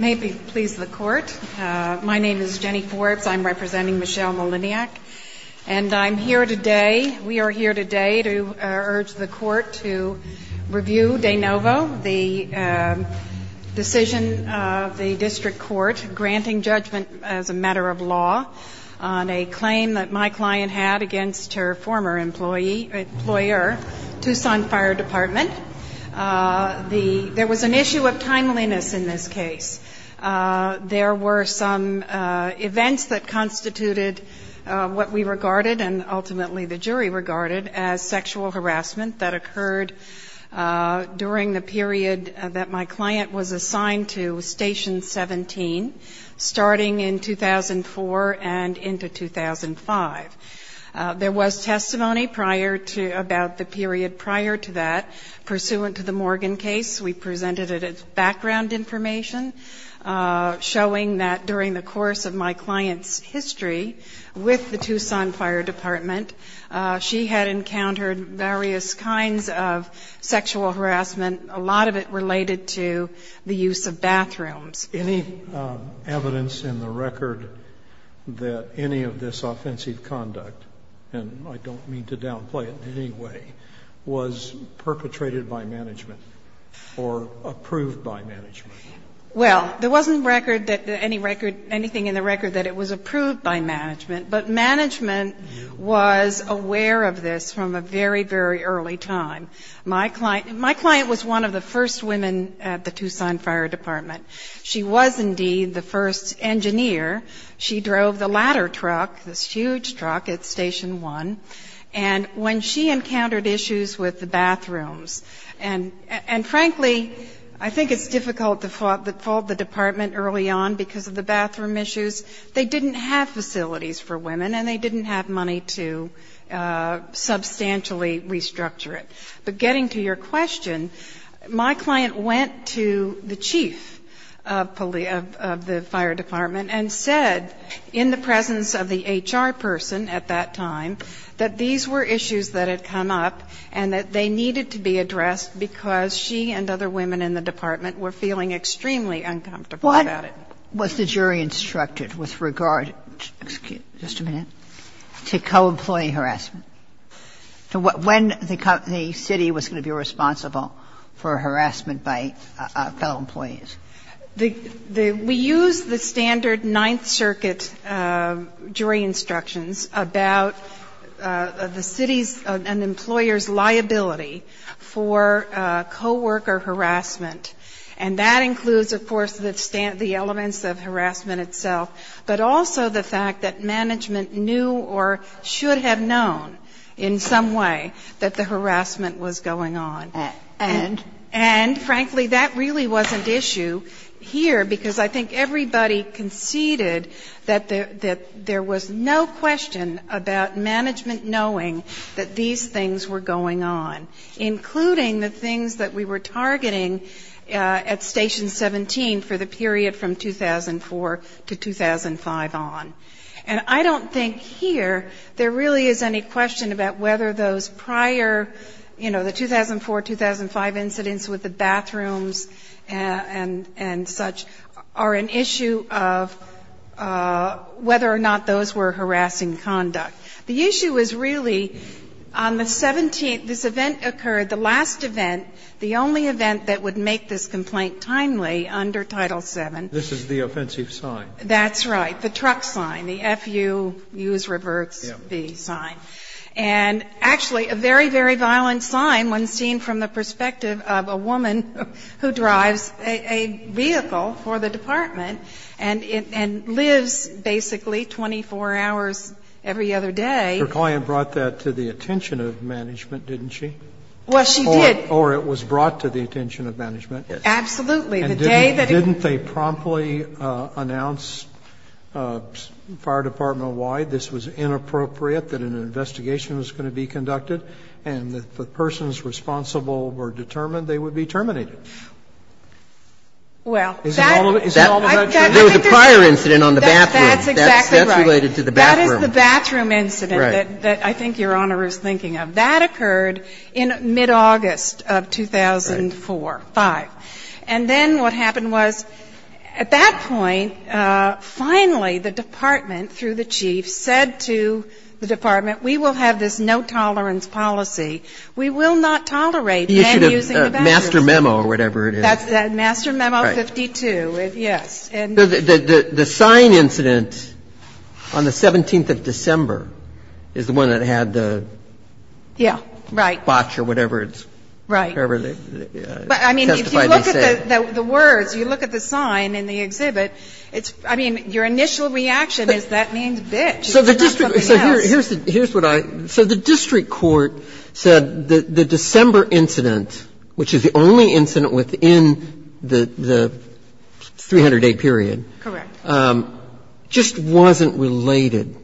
May it please the court, my name is Jenny Forbes, I'm representing Michelle Maliniak, and I'm here today, we are here today to urge the court to review de novo, the decision of the district court granting judgment as a matter of law on a claim that my client had against her former employee, employer, Tuscon Fire Department. There was an issue of timeliness in this case. There were some events that constituted what we regarded and ultimately the jury regarded as sexual harassment that occurred during the period that my client was assigned to Station 17, starting in 2004 and into 2005. There was testimony prior to, about the period prior to that pursuant to the Morgan case. We presented it as background information showing that during the course of my client's history with the Tuscon Fire Department, she had encountered various kinds of sexual harassment, a lot of it related to the use of bathrooms. Any evidence in the record that any of this offensive conduct, and I don't mean to downplay it in any way, was perpetrated by management or approved by management? Well, there wasn't record that any record, anything in the record that it was approved by management, but management was aware of this from a very, very early time. My client was one of the first women at the Tuscon Fire Department. She was indeed the first engineer. She drove the ladder truck, this huge truck at Station 1. And when she encountered issues with the bathrooms, and frankly, I think it's difficult to fault the department early on because of the bathroom issues. They didn't have facilities for women and they didn't have money to substantially restructure it. But getting to your question, my client went to the chief of the fire department and said in the presence of the HR person at that time that these were issues that had come up and that they needed to be addressed because she and other women in the department were feeling extremely uncomfortable about it. Was the jury instructed with regard, just a minute, to co-employee harassment? When the city was going to be responsible for harassment by fellow employees? We used the standard Ninth Circuit jury instructions about the city's and employers' liability for co-worker harassment. And that includes, of course, the elements of harassment itself, but also the fact that management knew or should have known in some way that the harassment was going on. And? And, frankly, that really wasn't issue here because I think everybody conceded that there was no question about management knowing that these things were going on, including the things that we were targeting at Station 17 for the period from 2004 to 2005 on. And I don't think here there really is any question about whether those prior, you know, the 2004-2005 incidents with the bathrooms and such are an issue of whether or not those were harassing conduct. The issue is really on the 17th, this event occurred, the last event, the only event that would make this complaint timely under Title VII. This is the offensive sign. That's right. The truck sign. The F-U, use reverts, B sign. And actually, a very, very violent sign when seen from the perspective of a woman who drives a vehicle for the department and lives basically 24 hours every other day. Your client brought that to the attention of management, didn't she? Well, she did. Or it was brought to the attention of management. Absolutely. The day that it was. And didn't they promptly announce Fire Department-wide this was inappropriate, that an investigation was going to be conducted, and that if the persons responsible were determined, they would be terminated? Well, that- Isn't all of that true? There was a prior incident on the bathroom. That's exactly right. That's related to the bathroom. That is the bathroom incident that I think Your Honor is thinking of. Right. That occurred in mid-August of 2004-2005. And then what happened was, at that point, finally the department, through the chief, said to the department, we will have this no-tolerance policy. We will not tolerate men using the bathroom. The issue of Master Memo or whatever it is. That's that. Master Memo 52. Yes. The sign incident on the 17th of December is the one that had the botch or whatever it's testified to say. Right. I mean, if you look at the words, you look at the sign in the exhibit, I mean, your initial reaction is that means bitch. So the district court said the December incident, which is the only incident within the 300-day period- Correct. Just wasn't related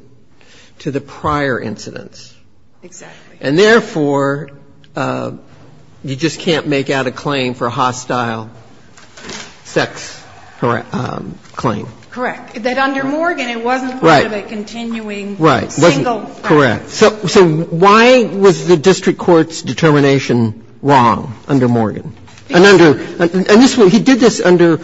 to the prior incidents. Exactly. And therefore, you just can't make out a claim for a hostile sex claim. Correct. That under Morgan, it wasn't part of a continuing single- Right. Correct. So why was the district court's determination wrong under Morgan? And under this one, he did this under,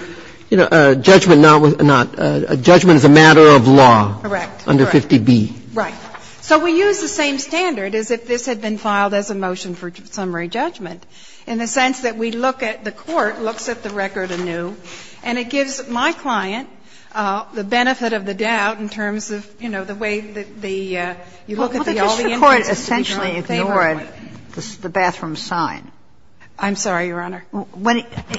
you know, judgment not, judgment as a matter of law. Correct. Under 50B. Right. So we use the same standard as if this had been filed as a motion for summary judgment, in the sense that we look at the court, looks at the record anew, and it doesn't say anything about the benefit of the doubt in terms of, you know, the way that the- Well, the district court essentially ignored the bathroom sign. I'm sorry, Your Honor.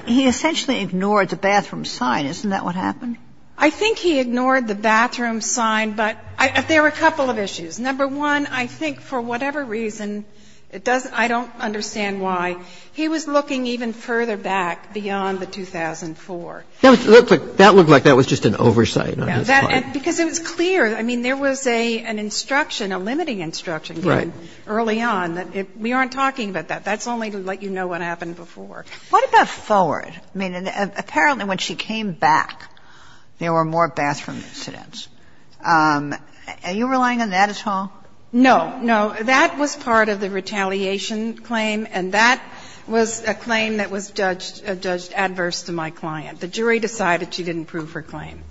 He essentially ignored the bathroom sign. Isn't that what happened? I think he ignored the bathroom sign, but there were a couple of issues. Number one, I think for whatever reason, it doesn't – I don't understand why. He was looking even further back beyond the 2004. That looked like that was just an oversight on his part. Because it was clear. I mean, there was an instruction, a limiting instruction given early on that we aren't talking about that. That's only to let you know what happened before. What about forward? I mean, apparently when she came back, there were more bathroom incidents. Are you relying on that at all? No. No. That was part of the retaliation claim, and that was a claim that was judged adverse to my client. The jury decided she didn't prove her claim.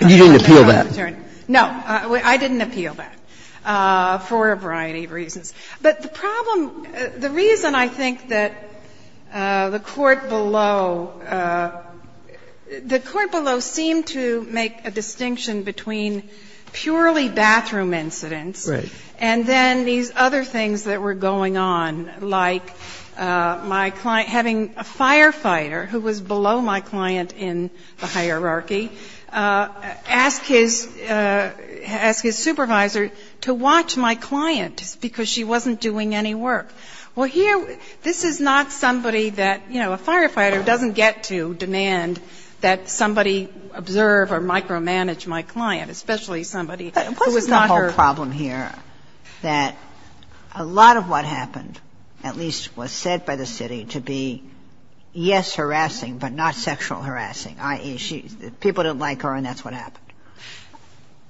And you didn't appeal that? No. I didn't appeal that for a variety of reasons. But the problem – the reason I think that the court below – the court below seemed to make a distinction between purely bathroom incidents. Right. And then these other things that were going on, like my client – having a firefighter who was below my client in the hierarchy ask his supervisor to watch my client because she wasn't doing any work. Well, here, this is not somebody that – you know, a firefighter doesn't get to demand that somebody observe or micromanage my client, especially somebody who is not her client. And that's the problem here, that a lot of what happened at least was said by the city to be, yes, harassing, but not sexual harassing, i.e., people didn't like her and that's what happened.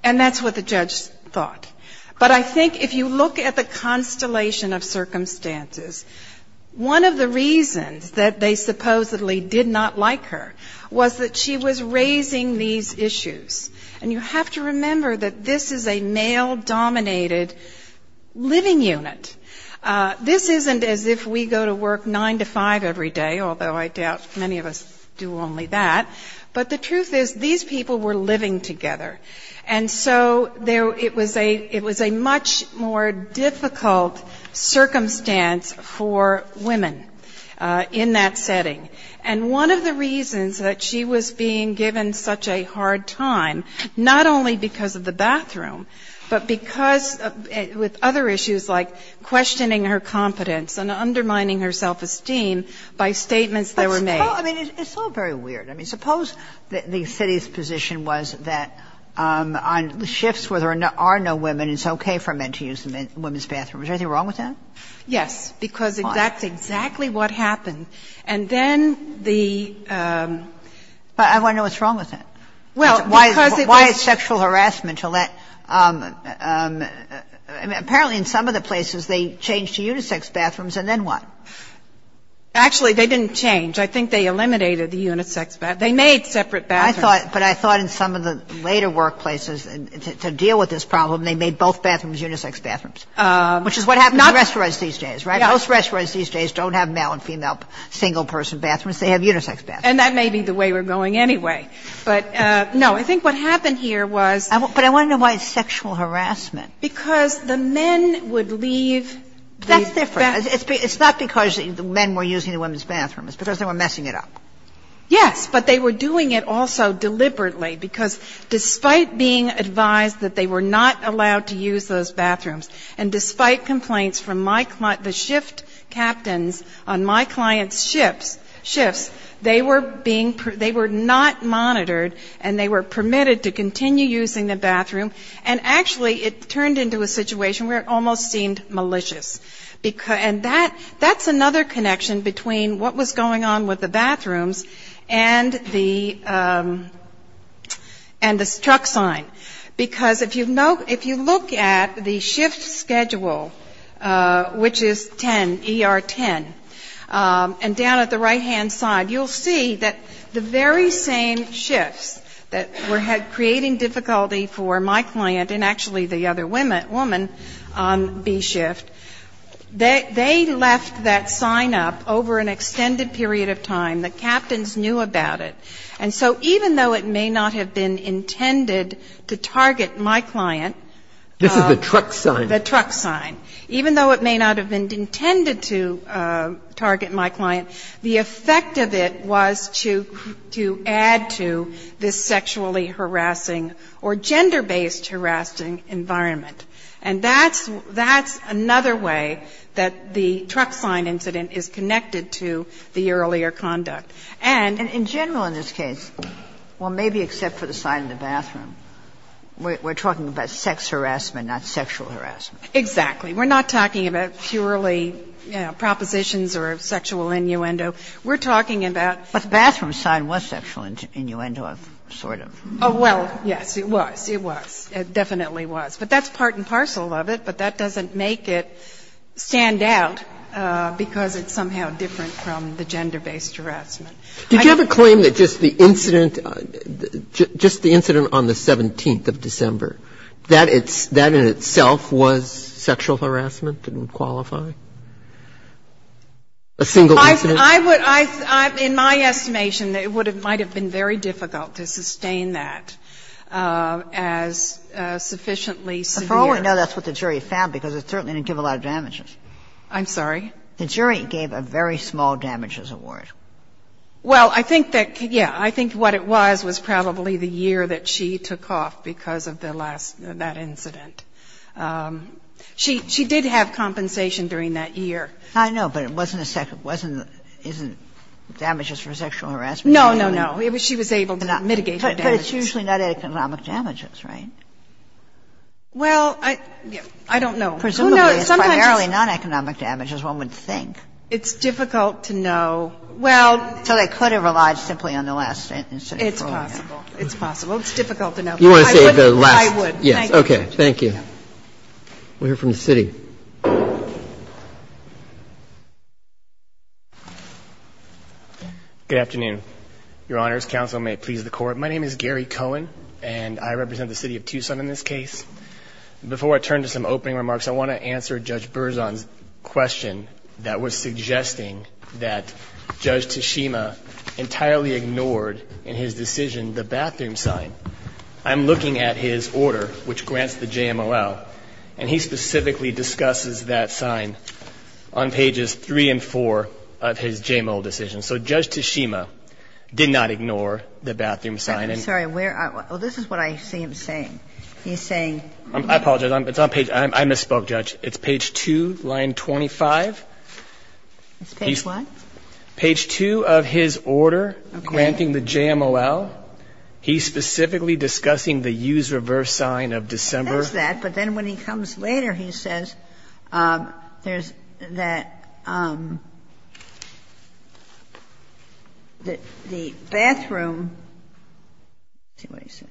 And that's what the judge thought. But I think if you look at the constellation of circumstances, one of the reasons that they supposedly did not like her was that she was raising these issues. And you have to remember that this is a male-dominated living unit. This isn't as if we go to work 9 to 5 every day, although I doubt many of us do only that, but the truth is these people were living together. And so it was a much more difficult circumstance for women in that setting. And one of the reasons that she was being given such a hard time, not only because of the bathroom, but because with other issues like questioning her competence and undermining her self-esteem by statements that were made. But suppose – I mean, it's all very weird. I mean, suppose the city's position was that on shifts where there are no women, it's okay for men to use the women's bathroom. Is there anything wrong with that? Yes. Why? Because that's exactly what happened. And then the – But I want to know what's wrong with that. Well, because it was – Why is sexual harassment to let – apparently in some of the places they changed to unisex bathrooms, and then what? Actually, they didn't change. I think they eliminated the unisex bathroom. They made separate bathrooms. I thought – but I thought in some of the later workplaces, to deal with this problem, they made both bathrooms unisex bathrooms, which is what happens in restaurants these days, right? Most restaurants these days don't have male and female single-person bathrooms. They have unisex bathrooms. And that may be the way we're going anyway. But, no, I think what happened here was – But I want to know why it's sexual harassment. Because the men would leave the – That's different. It's not because the men were using the women's bathrooms. It's because they were messing it up. Yes. But they were doing it also deliberately, because despite being advised that they were not allowed to use those bathrooms, and despite complaints from the shift captains on my client's shifts, they were being – they were not monitored, and they were permitted to continue using the bathroom. And, actually, it turned into a situation where it almost seemed malicious. And that's another connection between what was going on with the bathrooms and the – and the truck sign. Because if you look at the shift schedule, which is 10, ER 10, and down at the right-hand side, you'll see that the very same shifts that were creating difficulty for my client and, actually, the other woman on B shift, they left that sign up over an extended period of time. The captains knew about it. And so even though it may not have been intended to target my client – This is the truck sign. The truck sign. Even though it may not have been intended to target my client, the effect of it was to add to this sexually harassing or gender-based harassing environment. And that's – that's another way that the truck sign incident is connected to the earlier conduct. And – And in general in this case, well, maybe except for the sign in the bathroom, we're talking about sex harassment, not sexual harassment. Exactly. We're not talking about purely, you know, propositions or sexual innuendo. We're talking about – But the bathroom sign was sexual innuendo of sort of – Oh, well, yes, it was. It was. It definitely was. But that's part and parcel of it, but that doesn't make it stand out because it's somehow different from the gender-based harassment. Did you have a claim that just the incident – just the incident on the 17th of December, that it's – that in itself was sexual harassment, didn't qualify? A single incident? I would – I – in my estimation, it would have – might have been very difficult to sustain that as sufficiently severe. No, that's what the jury found because it certainly didn't give a lot of damages. I'm sorry? The jury gave a very small damages award. Well, I think that – yeah, I think what it was was probably the year that she took off because of the last – that incident. She did have compensation during that year. I know, but it wasn't a – wasn't – isn't damages for sexual harassment usually – No, no, no. She was able to mitigate the damages. But it's usually not economic damages, right? Well, I – I don't know. Presumably, it's primarily non-economic damages, one would think. It's difficult to know. Well – So they could have relied simply on the last incident. It's possible. It's possible. It's difficult to know. You want to say the last – I would. Yes. Okay. Thank you. We'll hear from the City. Good afternoon, Your Honors. Counsel, may it please the Court. My name is Gary Cohen, and I represent the City of Tucson in this case. Before I turn to some opening remarks, I want to answer Judge Berzon's question that was suggesting that Judge Tshima entirely ignored in his decision the bathroom sign. I'm looking at his order, which grants the JMOL, and he specifically discusses that sign on pages 3 and 4 of his JMOL decision. So Judge Tshima did not ignore the bathroom sign. I'm sorry. Where – well, this is what I see him saying. He's saying – I apologize. It's on page – I misspoke, Judge. It's page 2, line 25. It's page what? Page 2 of his order granting the JMOL. Okay. He's specifically discussing the use reverse sign of December. He says that, but then when he comes later, he says there's that – the bathroom sign. Let's see what he said.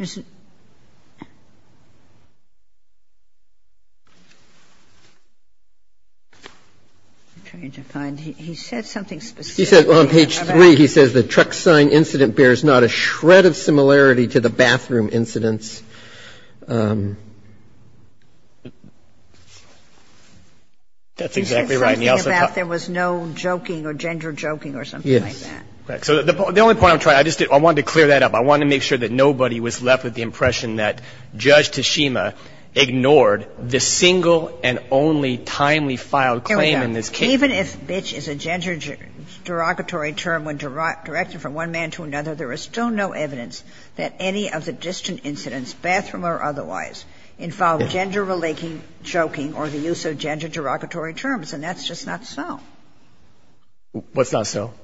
I'm trying to find – he said something specific. He said on page 3, he says the truck sign incident bears not a shred of similarity to the bathroom incidents. That's exactly right. And he also – He was talking about there was no joking or gender joking or something like that. Yes. Correct. So the only point I'm trying – I just did – I wanted to clear that up. I wanted to make sure that nobody was left with the impression that Judge Tshima ignored the single and only timely filed claim in this case. Even if bitch is a gender derogatory term when directed from one man to another, there is still no evidence that any of the distant incidents, bathroom or otherwise, involve gender-related joking or the use of gender derogatory terms. And that's just not so. What's not so?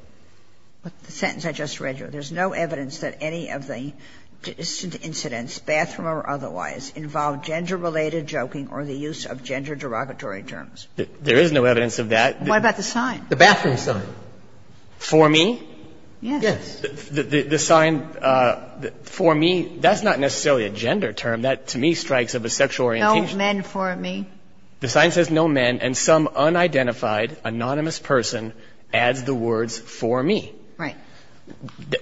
The sentence I just read you. There's no evidence that any of the distant incidents, bathroom or otherwise, involve gender-related joking or the use of gender derogatory terms. There is no evidence of that. What about the sign? The bathroom sign. For me? Yes. The sign for me, that's not necessarily a gender term. That, to me, strikes of a sexual orientation. No men for me? The sign says no men, and some unidentified, anonymous person adds the words for me. Right.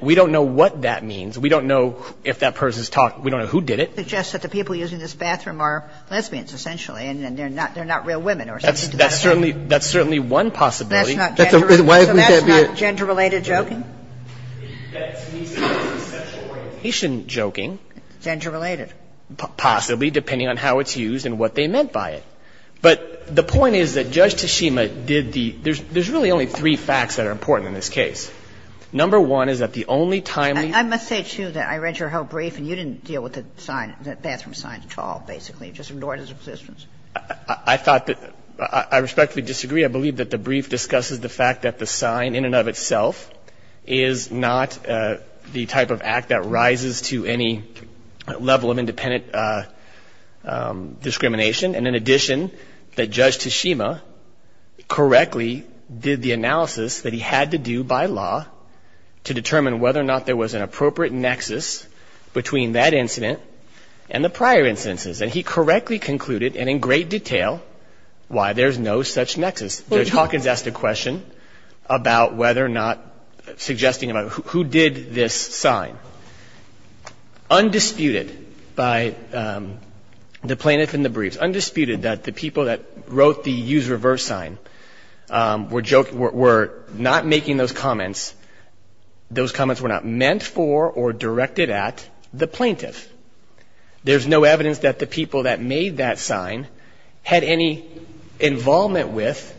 We don't know what that means. We don't know if that person's talking. We don't know who did it. It suggests that the people using this bathroom are lesbians, essentially, and they're not real women or something to that effect. That's certainly one possibility. So that's not gender-related joking? That, to me, is sexual orientation joking. Gender-related. Possibly, depending on how it's used and what they meant by it. But the point is that Judge Tashima did the – there's really only three facts that are important in this case. Number one is that the only timely – I must say, too, that I read your whole brief and you didn't deal with the sign, the bathroom sign at all, basically. You just ignored its existence. I thought that – I respectfully disagree. I believe that the brief discusses the fact that the sign in and of itself is not the type of act that rises to any level of independent discrimination. And in addition, that Judge Tashima correctly did the analysis that he had to do by law to determine whether or not there was an appropriate nexus between that incident and the prior instances. And he correctly concluded, and in great detail, why there's no such nexus. Judge Hawkins asked a question about whether or not – suggesting about who did this sign. Undisputed by the plaintiff in the briefs, undisputed that the people that wrote the use-reverse sign were not making those comments. Those comments were not meant for or directed at the plaintiff. There's no evidence that the people that made that sign had any involvement with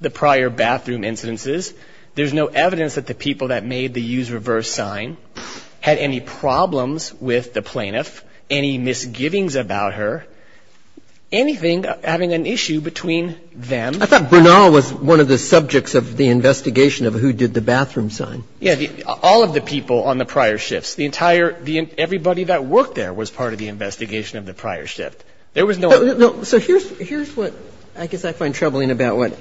the prior bathroom incidences. There's no evidence that the people that made the use-reverse sign had any problems with the plaintiff, any misgivings about her, anything having an issue between them. I thought Brunel was one of the subjects of the investigation of who did the bathroom sign. All of the people on the prior shifts. The entire – everybody that worked there was part of the investigation of the prior shift. There was no other. So here's what I guess I find troubling about what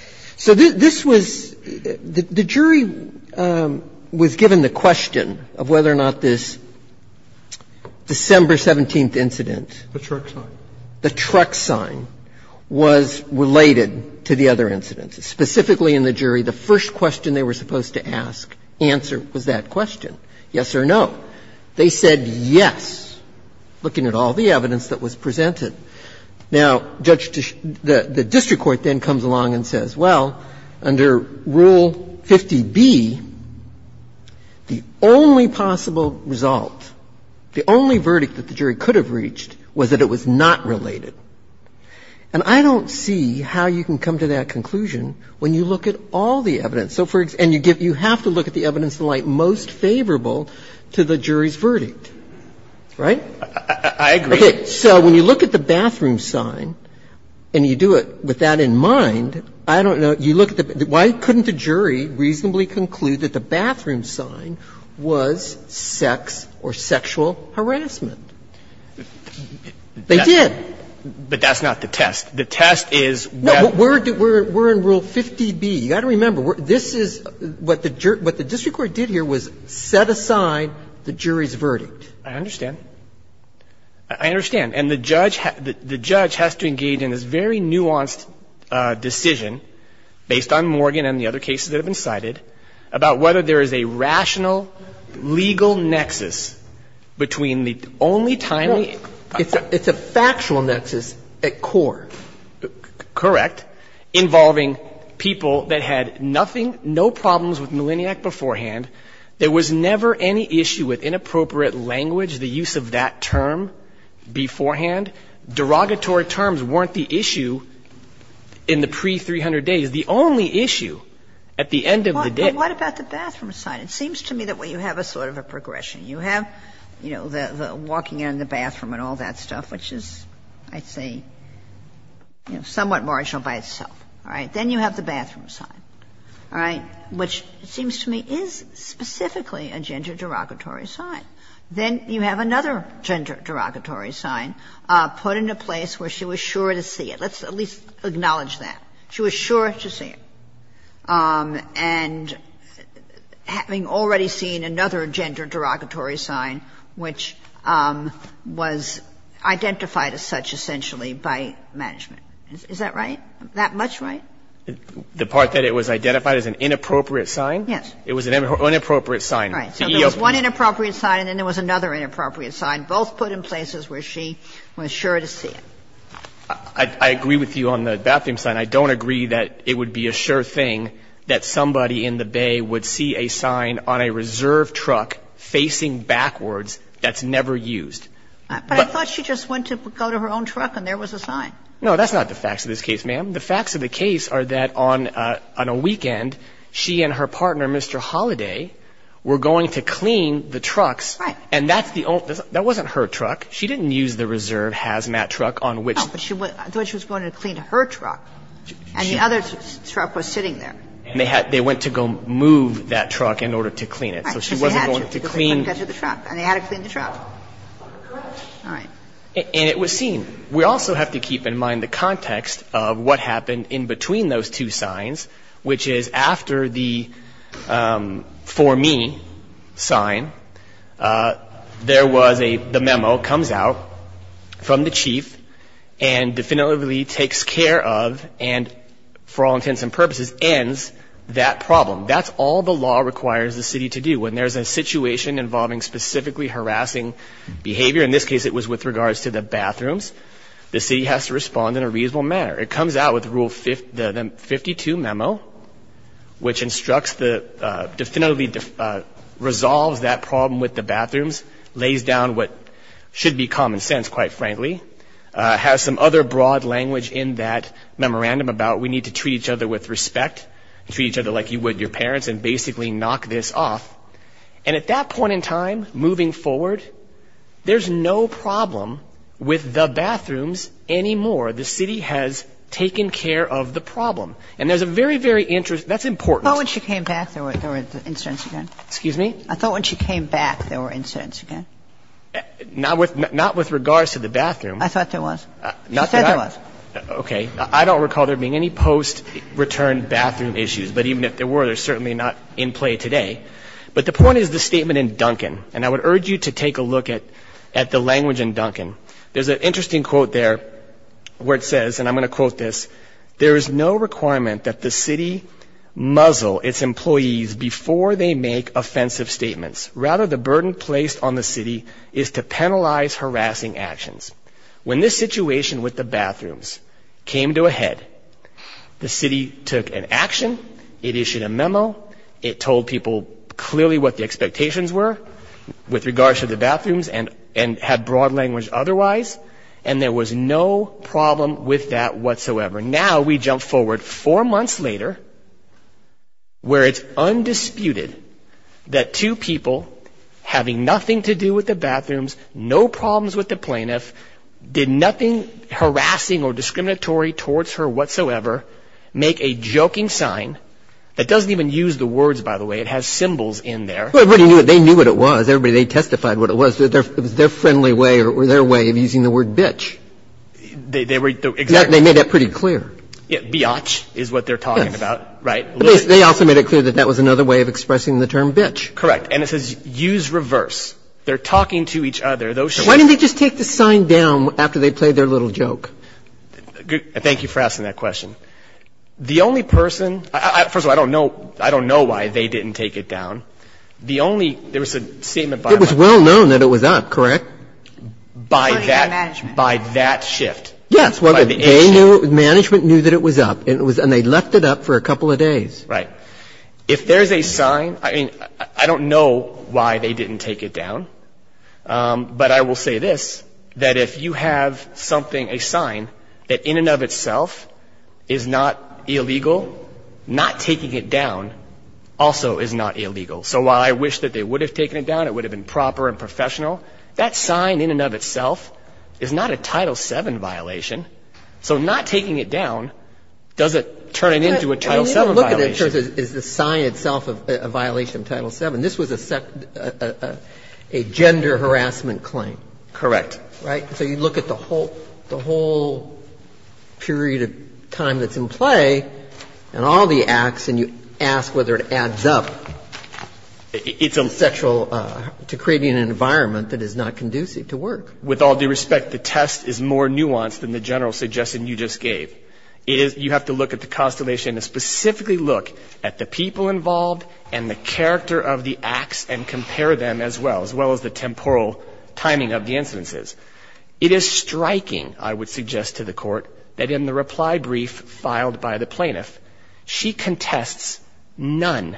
– so this was – the jury was given the question of whether or not this December 17th incident. The truck sign. The truck sign was related to the other incidents. Specifically in the jury, the first question they were supposed to ask, answer, was that question, yes or no. They said yes, looking at all the evidence that was presented. Now, Judge – the district court then comes along and says, well, under Rule 50B, the only possible result, the only verdict that the jury could have reached was that it was not related. And I don't see how you can come to that conclusion when you look at all the evidence. So for – and you have to look at the evidence in light most favorable to the jury's verdict, right? I agree. Okay. So when you look at the bathroom sign and you do it with that in mind, I don't know – you look at the – why couldn't the jury reasonably conclude that the bathroom sign was sex or sexual harassment? They did. But that's not the test. The test is what – No. We're in Rule 50B. You've got to remember, this is – what the district court did here was set aside the jury's verdict. I understand. I understand. And the judge has to engage in this very nuanced decision, based on Morgan and the other cases that have been cited, about whether there is a rational legal nexus between the only timely – Well, it's a factual nexus at core. Correct. Involving people that had nothing – no problems with Millenniac beforehand. There was never any issue with inappropriate language, the use of that term beforehand. Derogatory terms weren't the issue in the pre-300 days. The only issue at the end of the day – But what about the bathroom sign? It seems to me that you have a sort of a progression. You have, you know, the walking in the bathroom and all that stuff, which is, I'd say, you know, somewhat marginal by itself. All right? Then you have the bathroom sign. All right? Which seems to me is specifically a gender derogatory sign. Then you have another gender derogatory sign, put in a place where she was sure to see it. Let's at least acknowledge that. She was sure to see it. And having already seen another gender derogatory sign, which was identified as such essentially by management. Is that right? That much right? The part that it was identified as an inappropriate sign? Yes. It was an inappropriate sign. Right. So there was one inappropriate sign and then there was another inappropriate sign, both put in places where she was sure to see it. I agree with you on the bathroom sign. And I don't agree that it would be a sure thing that somebody in the Bay would see a sign on a reserve truck facing backwards that's never used. But I thought she just went to go to her own truck and there was a sign. No, that's not the facts of this case, ma'am. The facts of the case are that on a weekend, she and her partner, Mr. Holiday, were going to clean the trucks. Right. And that's the only, that wasn't her truck. She didn't use the reserve hazmat truck on which. I thought she was going to clean her truck and the other truck was sitting there. They went to go move that truck in order to clean it. So she wasn't going to clean. And they had to clean the truck. Correct. All right. And it was seen. We also have to keep in mind the context of what happened in between those two signs, which is after the for me sign, there was a, the memo comes out from the chief and definitively takes care of and for all intents and purposes ends that problem. That's all the law requires the city to do when there's a situation involving specifically harassing behavior. In this case, it was with regards to the bathrooms. The city has to respond in a reasonable manner. It comes out with Rule 52 memo, which instructs the definitively resolves that problem with the bathrooms, lays down what should be common sense, quite frankly, has some other broad language in that memorandum about we need to treat each other with respect, treat each other like you would your parents, and basically knock this off. And at that point in time, moving forward, there's no problem with the bathrooms anymore. The city has taken care of the problem. And there's a very, very interesting, that's important. I thought when she came back there were incidents again. Excuse me? I thought when she came back there were incidents again. Not with regards to the bathroom. I thought there was. She said there was. Okay. I don't recall there being any post-return bathroom issues. But even if there were, they're certainly not in play today. But the point is the statement in Duncan. And I would urge you to take a look at the language in Duncan. There's an interesting quote there where it says, and I'm going to quote this, there is no requirement that the city muzzle its employees before they make offensive statements. Rather, the burden placed on the city is to penalize harassing actions. When this situation with the bathrooms came to a head, the city took an action. It issued a memo. It told people clearly what the expectations were with regards to the bathrooms and had broad language otherwise. And there was no problem with that whatsoever. Now we jump forward four months later where it's undisputed that two people having nothing to do with the bathrooms, no problems with the plaintiff, did nothing harassing or discriminatory towards her whatsoever, make a joking sign that doesn't even use the words, by the way. It has symbols in there. They knew what it was. They testified what it was. They testified that it was their friendly way or their way of using the word bitch. They made that pretty clear. Biatch is what they're talking about, right? They also made it clear that that was another way of expressing the term bitch. Correct. And it says use reverse. They're talking to each other. Why didn't they just take the sign down after they played their little joke? Thank you for asking that question. The only person ‑‑ first of all, I don't know why they didn't take it down. The only ‑‑ there was a statement by ‑‑ It was well known that it was up, correct? By that shift. Yes. Management knew that it was up. And they left it up for a couple of days. Right. If there's a sign, I mean, I don't know why they didn't take it down. But I will say this, that if you have something, a sign, that in and of itself is not illegal, not taking it down also is not illegal. So while I wish that they would have taken it down, it would have been proper and professional, that sign in and of itself is not a Title VII violation. So not taking it down doesn't turn it into a Title VII violation. And you don't look at it in terms of is the sign itself a violation of Title VII. This was a gender harassment claim. Correct. Right? So you look at the whole period of time that's in play and all the acts and you ask whether it adds up. It's essential to creating an environment that is not conducive to work. With all due respect, the test is more nuanced than the general suggestion you just gave. You have to look at the constellation and specifically look at the people involved and the character of the acts and compare them as well, as well as the temporal timing of the incidences. It is striking, I would suggest to the Court, that in the reply brief filed by the plaintiff, she contests none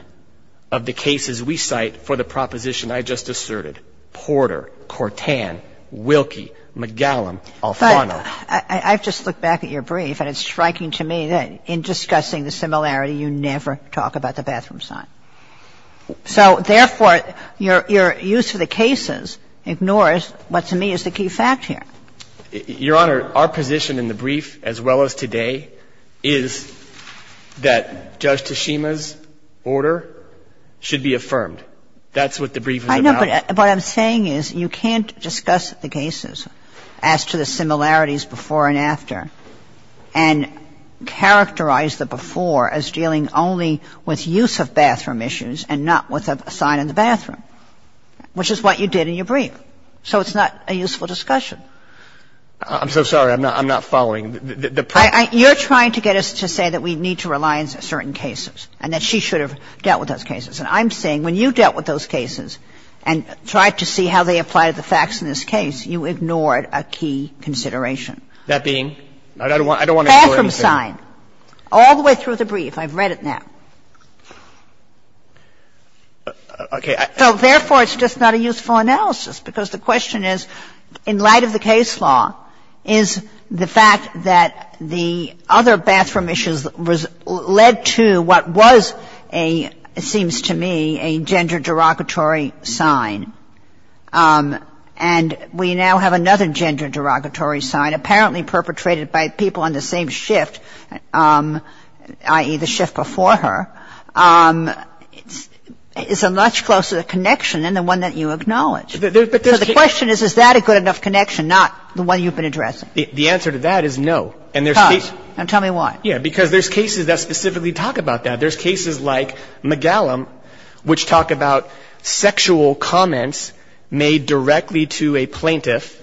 of the cases we cite for the proposition I just asserted, Porter, Cortan, Wilkie, McGallum, Alfano. But I've just looked back at your brief and it's striking to me that in discussing the similarity you never talk about the bathroom sign. So, therefore, your use of the cases ignores what to me is the key fact here. Your Honor, our position in the brief, as well as today, is that Judge Tashima's order should be affirmed. That's what the brief is about. I know, but what I'm saying is you can't discuss the cases as to the similarities before and after and characterize the before as dealing only with use of bathroom issues and not with a sign in the bathroom, which is what you did in your brief. So it's not a useful discussion. I'm so sorry. I'm not following. You're trying to get us to say that we need to rely on certain cases and that she should have dealt with those cases. And I'm saying when you dealt with those cases and tried to see how they apply to the facts in this case, you ignored a key consideration. That being? I don't want to ignore anything. Bathroom sign, all the way through the brief. I've read it now. Okay. So therefore, it's just not a useful analysis because the question is, in light of the case law, is the fact that the other bathroom issues led to what was a, it seems to me, a gender derogatory sign. And we now have another gender derogatory sign apparently perpetrated by people on the same shift, i.e., the shift before her. It's a much closer connection than the one that you acknowledge. So the question is, is that a good enough connection, not the one you've been addressing? The answer to that is no. Because? And tell me why. Yeah, because there's cases that specifically talk about that. There's cases like McGallum which talk about sexual comments made directly to a plaintiff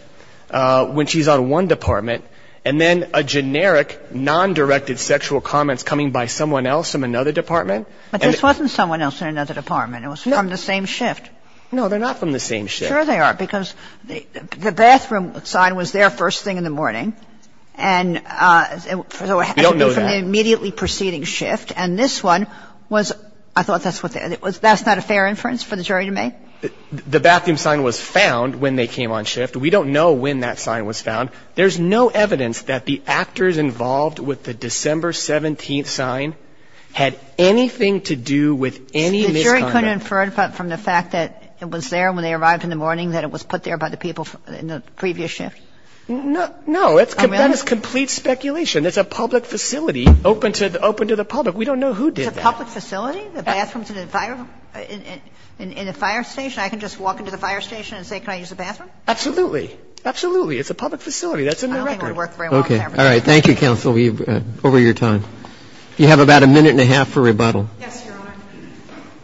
when she's on one department and then a generic, non-directed sexual comments coming by someone else in another department. But this wasn't someone else in another department. It was from the same shift. No, they're not from the same shift. Sure they are. Because the bathroom sign was there first thing in the morning. We don't know that. And it had to be from the immediately preceding shift. And this one was, I thought that's what, that's not a fair inference for the jury to make? The bathroom sign was found when they came on shift. We don't know when that sign was found. There's no evidence that the actors involved with the December 17th sign had anything to do with any misconduct. The jury couldn't infer from the fact that it was there when they arrived in the morning that it was put there by the people in the previous shift? No. No. That is complete speculation. It's a public facility open to the public. We don't know who did that. It's a public facility? The bathroom's in the fire station. I can just walk into the fire station and say, can I use the bathroom? Absolutely. Absolutely. It's a public facility. It's a public facility. That's a new record. Okay. All right. Thank you, counsel. Over your time. You have about a minute and a half for rebuttal. Yes, Your Honor.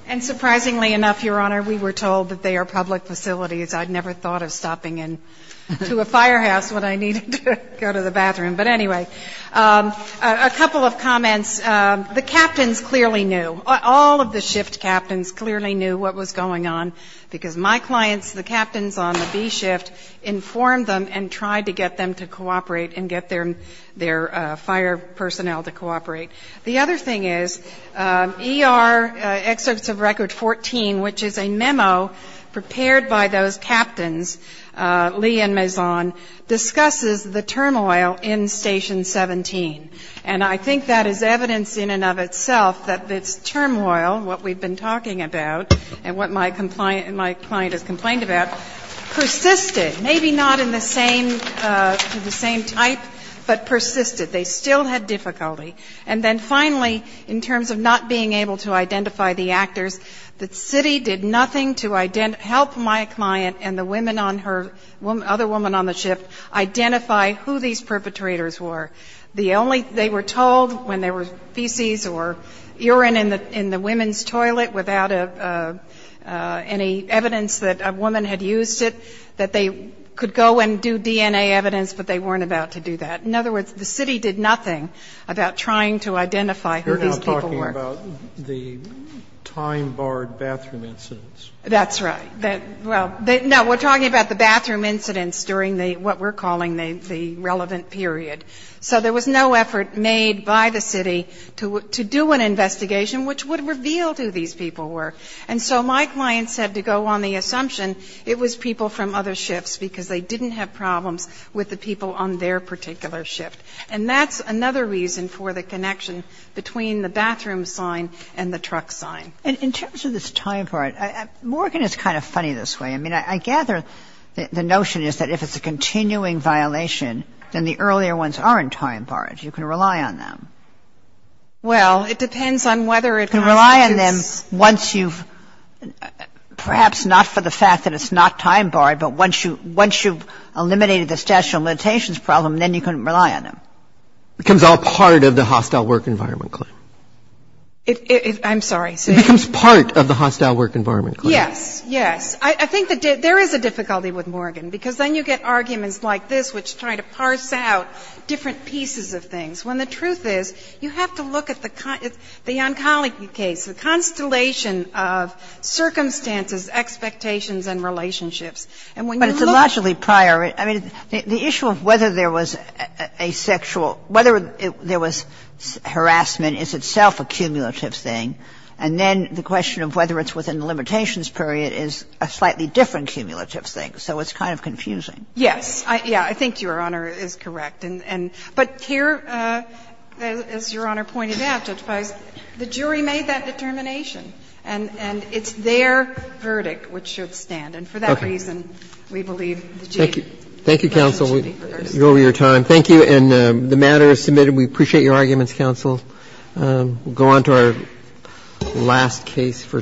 And surprisingly enough, Your Honor, we were told that they are public facilities. I'd never thought of stopping into a firehouse when I needed to go to the bathroom. But anyway, a couple of comments. The captains clearly knew. All of the shift captains clearly knew what was going on because my clients, the captains on the B shift, informed them and tried to get them to cooperate and get their fire personnel to cooperate. The other thing is, ER Excerpts of Record 14, which is a memo prepared by those captains, Lee and Mazon, discusses the turmoil in Station 17. And I think that is evidence in and of itself that this turmoil, what we've been talking about, and what my client has complained about, persisted. Maybe not in the same type, but persisted. They still had difficulty. And then finally, in terms of not being able to identify the actors, the city did nothing to help my client and the other woman on the shift identify who these perpetrators were. They were told when there were feces or urine in the women's toilet without any evidence that a woman had used it, that they could go and do DNA evidence, but they weren't about to do that. In other words, the city did nothing about trying to identify who these people were. You're now talking about the time-barred bathroom incidents. That's right. Well, no, we're talking about the bathroom incidents during what we're calling the relevant period. So there was no effort made by the city to do an investigation which would reveal who these people were. And so my client said to go on the assumption it was people from other shifts because they didn't have problems with the people on their particular shift. And that's another reason for the connection between the bathroom sign and the truck sign. And in terms of this time part, Morgan is kind of funny this way. I mean, I gather the notion is that if it's a continuing violation, then the earlier ones aren't time-barred. You can rely on them. Well, it depends on whether it has to be. You can rely on them once you've, perhaps not for the fact that it's not time-barred, but once you've eliminated the stationary limitations problem, then you can rely on them. It becomes all part of the hostile work environment claim. I'm sorry. It becomes part of the hostile work environment claim. Yes, yes. I think there is a difficulty with Morgan, because then you get arguments like this which try to parse out different pieces of things, when the truth is you have to look at the oncology case, the constellation of circumstances, expectations, and relationships. And when you look at it. But it's a logically prior. I mean, the issue of whether there was a sexual, whether there was harassment is itself a cumulative thing. And then the question of whether it's within the limitations period is a slightly different cumulative thing, so it's kind of confusing. Yes. Yeah. I think Your Honor is correct. But here, as Your Honor pointed out, Justice Breyer, the jury made that determination. And it's their verdict which should stand. And for that reason, we believe the genie. Thank you, counsel. You're over your time. Thank you. And the matter is submitted. We appreciate your arguments, counsel. We'll go on to our last case for today.